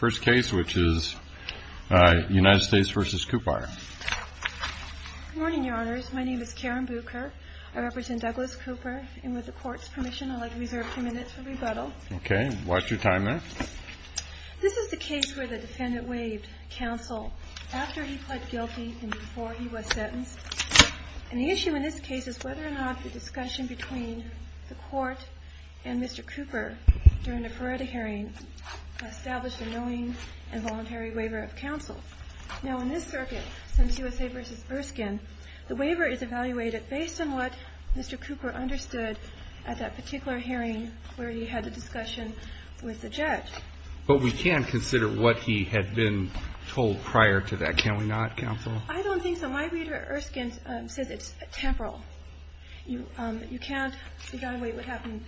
First case which is United States v. COUPAR Morning, your honors. My name is Karen Bucher. I represent Douglas Cooper. And with the court's permission, I'd like to reserve a few minutes for rebuttal. Okay. Watch your time there. This is the case where the defendant waived counsel after he pled guilty and before he was sentenced. And the issue in this case is whether or not the discussion between the court and Mr. Cooper during the Feretta hearing established a knowing and voluntary waiver of counsel. Now, in this circuit, since USA v. Erskine, the waiver is evaluated based on what Mr. Cooper understood at that particular hearing where he had the discussion with the judge. But we can consider what he had been told prior to that, can we not, counsel? I don't think so. My reader, Erskine, says it's temporal. You can't evaluate what happened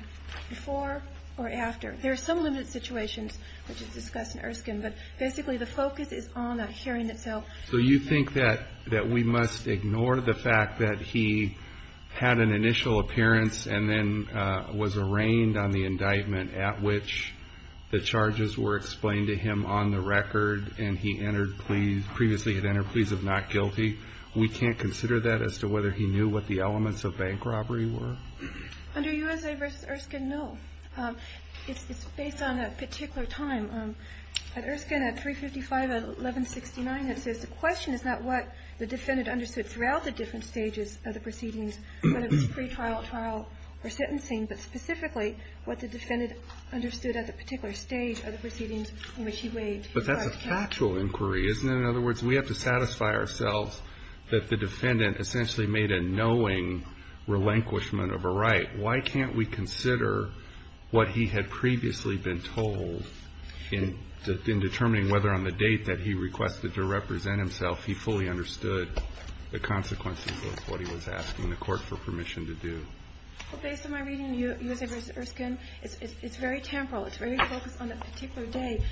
before or after. There are some limited situations which is discussed in Erskine, but basically the focus is on that hearing itself. So you think that we must ignore the fact that he had an initial appearance and then was arraigned on the indictment at which the charges were explained to him on the record and he entered plea, previously had entered pleas of not guilty? We can't consider that as to whether he knew what the elements of bank robbery were? Under USA v. Erskine, no. It's based on a particular time. At Erskine at 355-1169, it says the question is not what the defendant understood throughout the different stages of the proceedings, whether it was pretrial, trial, or sentencing, but specifically what the defendant understood at the particular stage of the proceedings in which he waived. But that's a factual inquiry, isn't it? In other words, we have to satisfy ourselves that the defendant essentially made a knowing relinquishment of a right. Why can't we consider what he had previously been told in determining whether on the date that he requested to represent himself he fully understood the consequences of what he was asking the court for permission to do? Well, based on my reading of USA v. Erskine, it's very temporal. It's very focused on a particular day.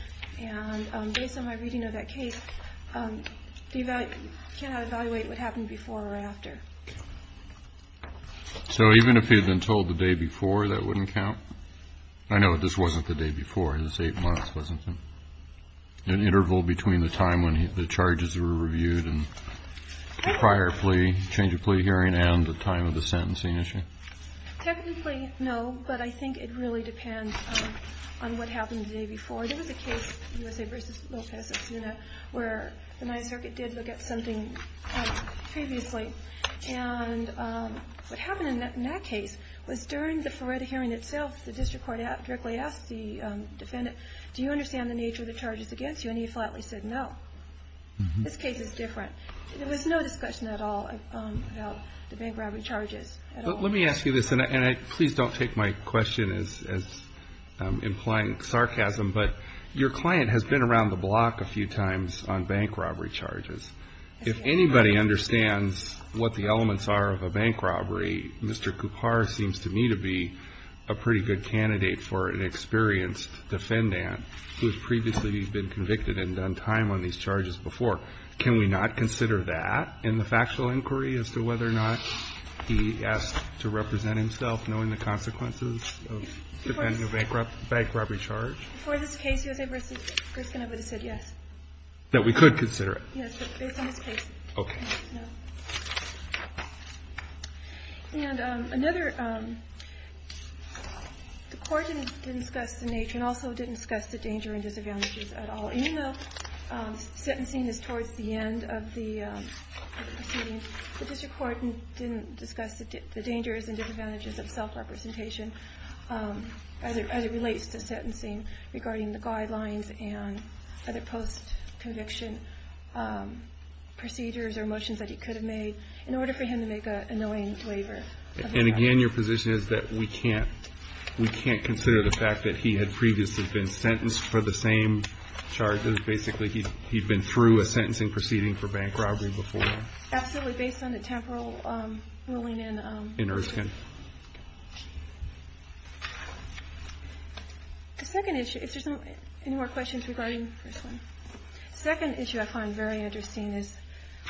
And based on my reading of that case, we cannot evaluate what happened before or after. So even if he had been told the day before, that wouldn't count? I know this wasn't the day before. It was eight months, wasn't it? An interval between the time when the charges were reviewed and the prior plea, change of plea hearing, and the time of the sentencing issue? Technically, no. But I think it really depends on what happened the day before. There was a case, USA v. Lopez-Atsuna, where the Ninth Circuit did look at something previously. And what happened in that case was during the Ferretta hearing itself, the district court directly asked the defendant, do you understand the nature of the charges against you? And he flatly said no. This case is different. There was no discussion at all about the bank robbery charges at all. But let me ask you this, and please don't take my question as implying sarcasm, but your client has been around the block a few times on bank robbery charges. If anybody understands what the elements are of a bank robbery, Mr. Coupar seems to me to be a pretty good candidate for an experienced defendant who has previously been convicted and done time on these charges before. Can we not consider that in the factual inquiry as to whether or not he asked to represent himself knowing the consequences of defending a bank robbery charge? Before this case, USA v. Grishkin, I would have said yes. That we could consider it? Yes, but based on this case, no. Okay. And another, the court didn't discuss the nature and also didn't discuss the danger and disadvantages at all. Even though sentencing is towards the end of the proceeding, the district court didn't discuss the dangers and disadvantages of self-representation as it relates to sentencing regarding the guidelines and other post-conviction procedures or motions that he could have made in order for him to make an annoying waiver. And again, your position is that we can't consider the fact that he had previously been sentenced for the same charges. Basically, he'd been through a sentencing proceeding for bank robbery before. Absolutely, based on the temporal ruling in... In Erskine. The second issue, if there's any more questions regarding the first one. The second issue I find very interesting is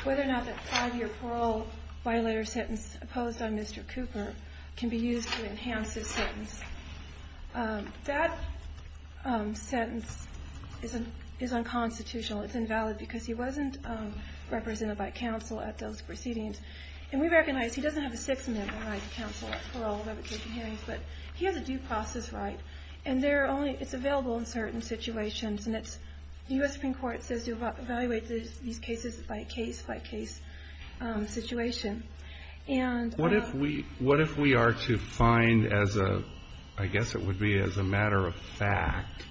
whether or not that five-year parole by letter sentence opposed on Mr. Cooper can be used to enhance his sentence. That sentence is unconstitutional. It's invalid because he wasn't represented by counsel at those proceedings. And we recognize he doesn't have a sixth amendment right to counsel at parole liberation hearings, but he has a due process right. And it's available in certain situations. And it's, the U.S. Supreme Court says you evaluate these cases by case by case situation. What if we are to find as a, I guess it would be as a matter of fact,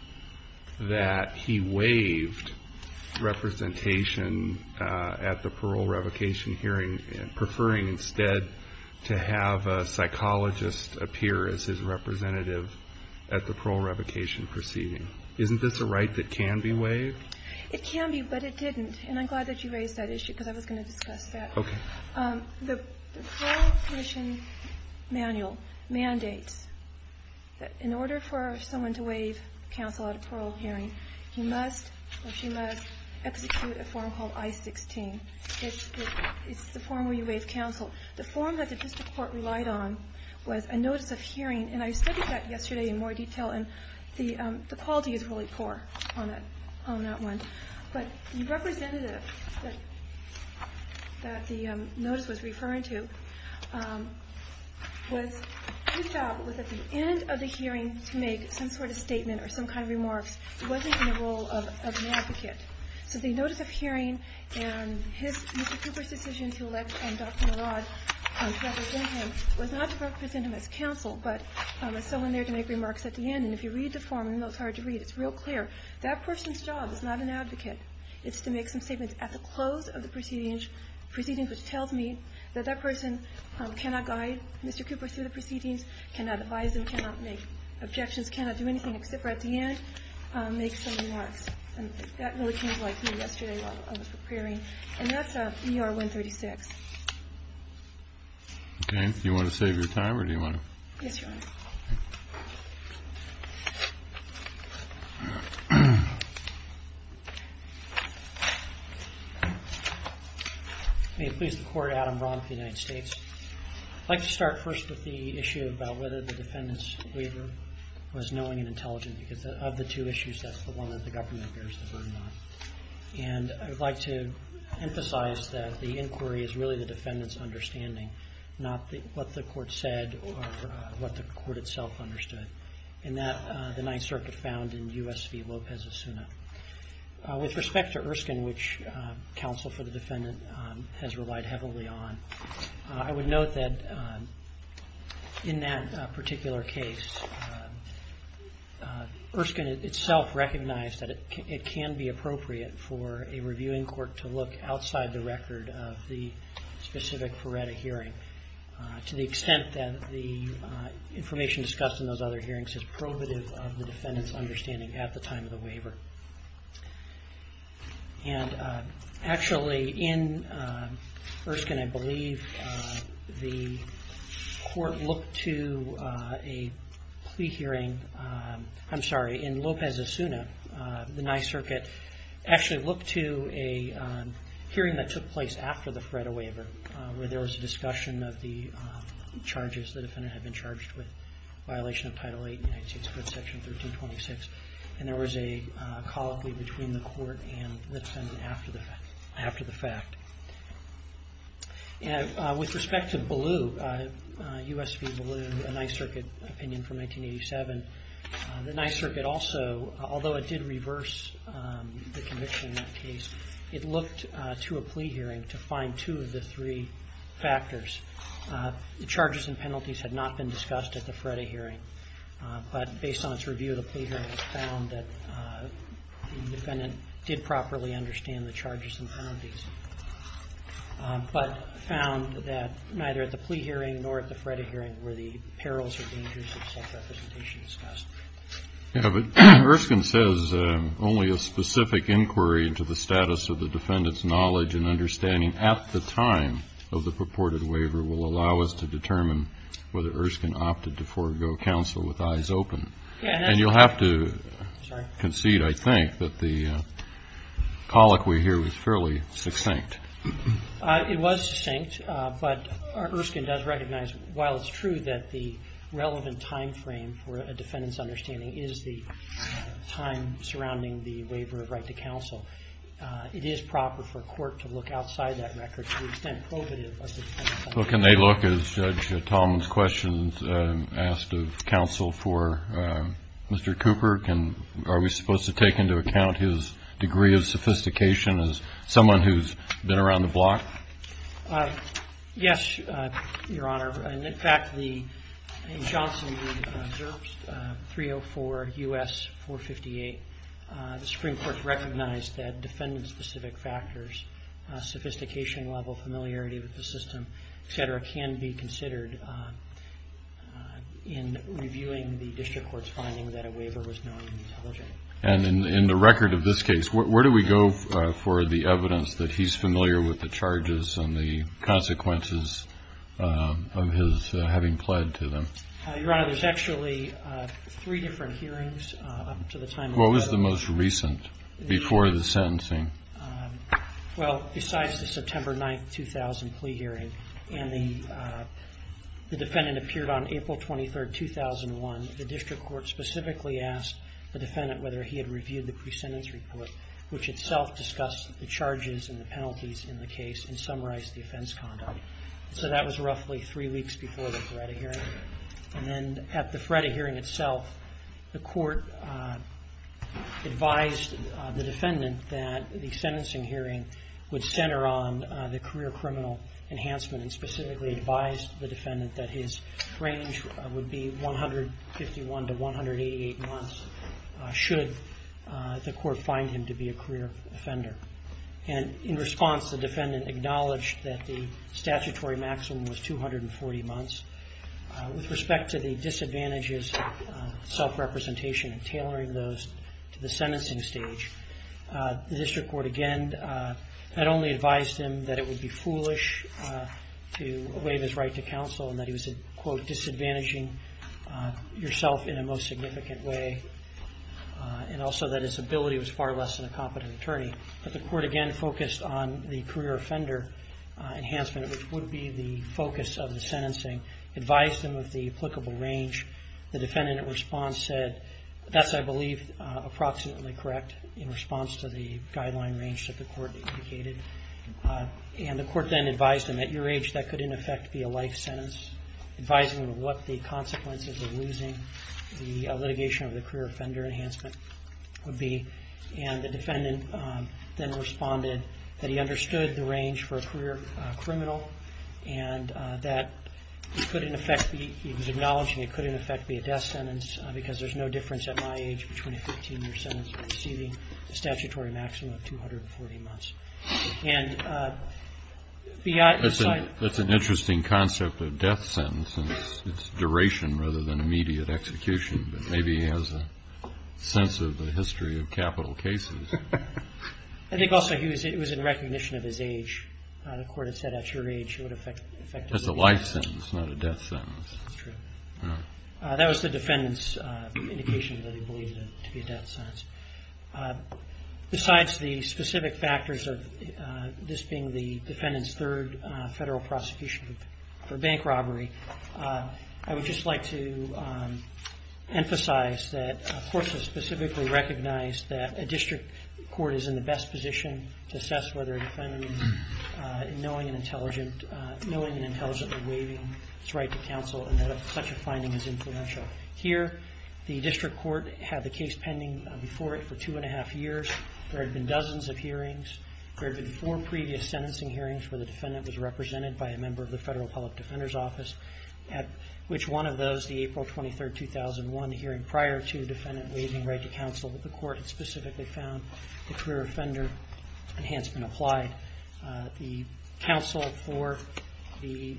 that he waived representation at the parole revocation hearing, preferring instead to have a psychologist appear as his representative at the parole revocation proceeding? Isn't this a right that can be waived? It can be, but it didn't. And I'm glad that you raised that issue because I was going to discuss that. Okay. The parole commission manual mandates that in order for someone to waive counsel at a parole hearing, he must or she must execute a form called I-16. It's the form where you waive counsel. The form that the district court relied on was a notice of hearing. And I studied that yesterday in more detail. And the quality is really poor on that one. But the representative that the notice was referring to was at the end of the hearing to make some sort of statement or some kind of remarks. He wasn't in the role of an advocate. So the notice of hearing and his, Mr. Cooper's decision to elect Dr. Merod to represent him as counsel, but as someone there to make remarks at the end. And if you read the form, even though it's hard to read, it's real clear. That person's job is not an advocate. It's to make some statements at the close of the proceedings, which tells me that that person cannot guide Mr. Cooper through the proceedings, cannot advise him, cannot make objections, cannot do anything except for at the end make some remarks. And that really came to light to me yesterday while I was preparing. And that's ER-136. Okay. Do you want to save your time or do you want to? Yes, Your Honor. May it please the Court. Adam Braun with the United States. I'd like to start first with the issue about whether the defendant's waiver was knowing and intelligent because of the two issues, that's the one that the government bears the burden on. And I would like to emphasize that the inquiry is really the defendant's understanding, not what the court said or what the court itself understood, and that the Ninth Circuit found in U.S. v. Lopez-Asuna. With respect to Erskine, which counsel for the defendant has relied heavily on, I would note that in that particular case, Erskine itself recognized that it can be appropriate for a reviewing court to look outside the record of the specific Ferretta hearing to the extent that the information discussed in those other hearings is probative of the defendant's understanding at the time of the waiver. And actually, in Erskine, I believe, the court looked to a plea hearing, I'm sorry, in Lopez-Asuna, the Ninth Circuit actually looked to a hearing that took place after the Ferretta waiver where there was a discussion of the charges the defendant had been charged with, violation of Title VIII in United States Court Section 1326, and there was a colloquy between the court and the defendant after the fact. With respect to Ballew, U.S. v. Ballew, a Ninth Circuit opinion from 1987, the Ninth Circuit also, although it did reverse the conviction in that case, it looked to a plea hearing to find two of the three factors. The charges and penalties had not been discussed at the Ferretta hearing, but based on its review of the plea hearing, it found that the defendant did properly understand the charges and penalties, but found that neither at the plea hearing nor at the Ferretta hearing were the perils or dangers of self-representation discussed. Yeah, but Erskine says only a specific inquiry into the status of the defendant's knowledge and understanding at the time of the purported waiver will allow us to determine whether Erskine opted to forego counsel with eyes open. And you'll have to concede, I think, that the colloquy here was fairly succinct. It was succinct, but Erskine does recognize, while it's true that the relevant timeframe for a defendant's understanding is the time surrounding the waiver of right to counsel, it is proper for court to look outside that record to the extent provative of the defendant's understanding. Well, can they look, as Judge Tallman's question asked of counsel for Mr. Cooper, can, are we supposed to take into account his degree of sophistication as someone who's been around the block? Yes, Your Honor. In fact, the, in Johnson v. Zerbst, 304 U.S. 458, the Supreme Court recognized that defendant-specific factors, in reviewing the district court's finding that a waiver was non-intelligent. And in the record of this case, where do we go for the evidence that he's familiar with the charges and the consequences of his having pled to them? Your Honor, there's actually three different hearings up to the time of the plea. What was the most recent before the sentencing? Well, besides the September 9, 2000 plea hearing and the defendant appeared on April 23, 2001, the district court specifically asked the defendant whether he had reviewed the presentence report, which itself discussed the charges and the penalties in the case and summarized the offense conduct. So that was roughly three weeks before the FREDA hearing. And then at the FREDA hearing itself, the court advised the defendant that the sentencing hearing would center on the career criminal enhancement and specifically advised the defendant that his range would be 151 to 188 months, should the court find him to be a career offender. And in response, the defendant acknowledged that the statutory maximum was 240 months. With respect to the disadvantages of self-representation and tailoring those to the sentencing stage, the district court again not only advised him that it would be foolish to waive his right to counsel and that he was, quote, disadvantaging yourself in a most significant way and also that his ability was far less than a competent attorney, but the court again focused on the career offender enhancement, which would be the focus of the sentencing, advised him of the applicable range. The defendant in response said, that's, I believe, approximately correct in response to the guideline range that the court indicated. And the court then advised him at your age that could, in effect, be a life sentence, advising him of what the consequences of losing the litigation of the career offender enhancement would be. And the defendant then responded that he understood the range for a career criminal and that he could, in effect, he was acknowledging it could, in effect, be a death sentence because there's no difference at my age between a 15-year sentence and receiving a statutory maximum of 240 months. And beyond this, I... That's an interesting concept of death sentence and its duration rather than immediate execution, but maybe he has a sense of the history of capital cases. I think also he was in recognition of his age. The court had said at your age it would affect... That's a life sentence, not a death sentence. That's true. That was the defendant's indication that he believed it to be a death sentence. Besides the specific factors of this being the defendant's third federal prosecution for bank robbery, I would just like to emphasize that the court has specifically recognized that a district court is in the best position to assess whether a defendant in knowing and intelligently waiving his right to counsel, and that such a finding is influential. Here, the district court had the case pending before it for two and a half years. There had been dozens of hearings. There had been four previous sentencing hearings where the defendant was represented by a member of the Federal Public Defender's Office, at which one of those, the April 23, 2001 hearing, prior to the defendant waiving right to counsel, the court had specifically found the career offender enhancement applied. The counsel for the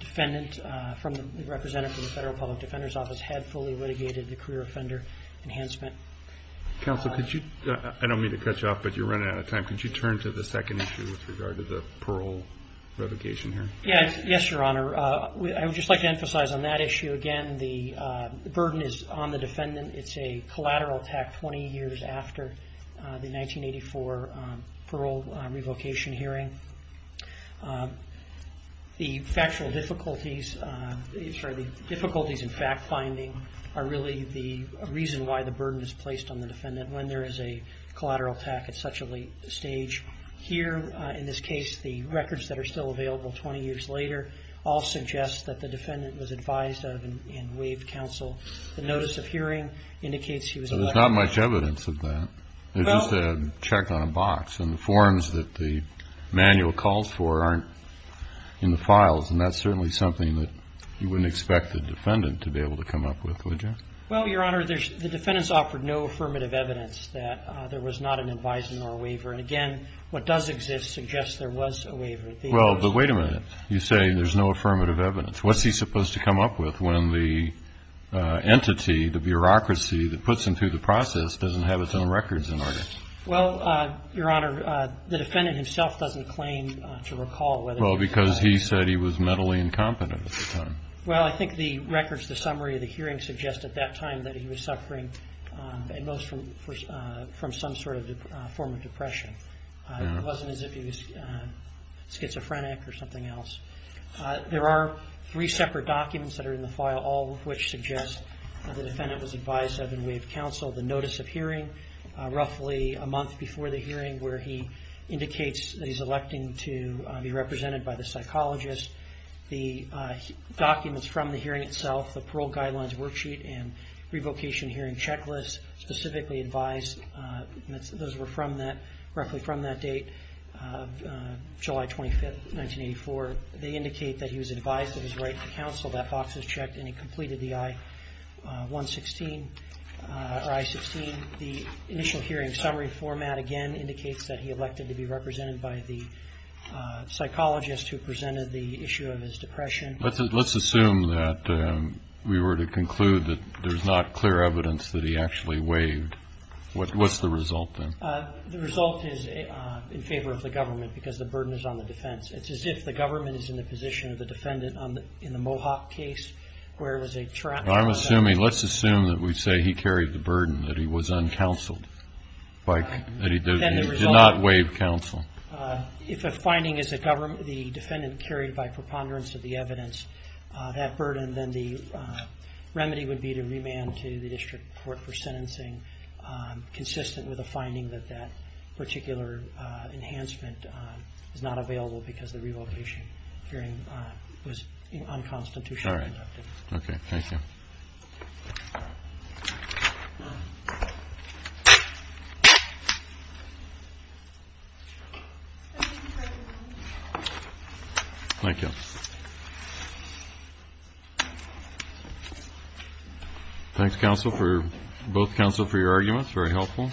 defendant from the representative of the Federal Public Defender's Office had fully litigated the career offender enhancement. Counsel, I don't mean to cut you off, but you're running out of time. Could you turn to the second issue with regard to the Pearl revocation here? Yes, Your Honor. I would just like to emphasize on that issue again the burden is on the defendant. It's a collateral attack 20 years after the 1984 Pearl revocation hearing. The factual difficulties, sorry, the difficulties in fact-finding are really the reason why the burden is placed on the defendant when there is a collateral attack at such a late stage. Here, in this case, the records that are still available 20 years later all suggest that the defendant was advised and waived counsel. The notice of hearing indicates he was elected. There's not much evidence of that. There's just a check on a box and the forms that the manual calls for aren't in the files, and that's certainly something that you wouldn't expect the defendant to be able to come up with, would you? Well, Your Honor, the defendants offered no affirmative evidence that there was not an advising or a waiver, and again, what does exist suggests there was a waiver. Well, but wait a minute. You say there's no affirmative evidence. What's he supposed to come up with when the entity, the bureaucracy, that puts him through the process doesn't have its own records in order? Well, Your Honor, the defendant himself doesn't claim to recall whether he was- Well, because he said he was mentally incompetent at the time. Well, I think the records, the summary of the hearing suggests at that time that he was suffering at most from some sort of form of depression. It wasn't as if he was schizophrenic or something else. There are three separate documents that are in the file, all of which suggest that the defendant was advised by the seven-way of counsel, the notice of hearing roughly a month before the hearing where he indicates that he's electing to be represented by the psychologist, the documents from the hearing itself, the parole guidelines worksheet and revocation hearing checklist specifically advised. Those were roughly from that date, July 25, 1984. They indicate that he was advised of his right to counsel. That box is checked and he completed the I-16. The initial hearing summary format again indicates that he elected to be represented by the psychologist who presented the issue of his depression. Let's assume that we were to conclude that there's not clear evidence that he actually waived. What's the result then? The result is in favor of the government because the burden is on the defense. It's as if the government is in the position of the defendant in the Mohawk case where it was a trap. I'm assuming, let's assume that we say he carried the burden, that he was uncounseled, that he did not waive counsel. If a finding is the defendant carried by preponderance of the evidence, that burden, then the remedy would be to remand to the district court for sentencing consistent with a finding that that particular enhancement is not available because the revocation hearing was unconstitutionally conducted. All right. Okay. Thank you. Thank you. Thank you. Thanks, both counsel, for your arguments. Very helpful.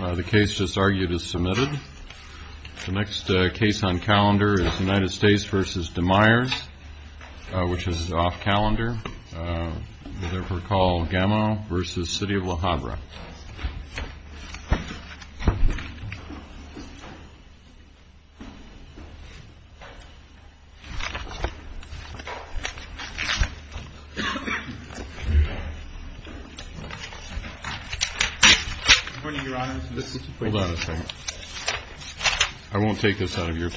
The case just argued is submitted. The next case on calendar is United States v. DeMeyers, which is off calendar. We therefore call Gamo v. City of Le Havre. Good morning, Your Honor. Hold on a second. I won't take this out of your time.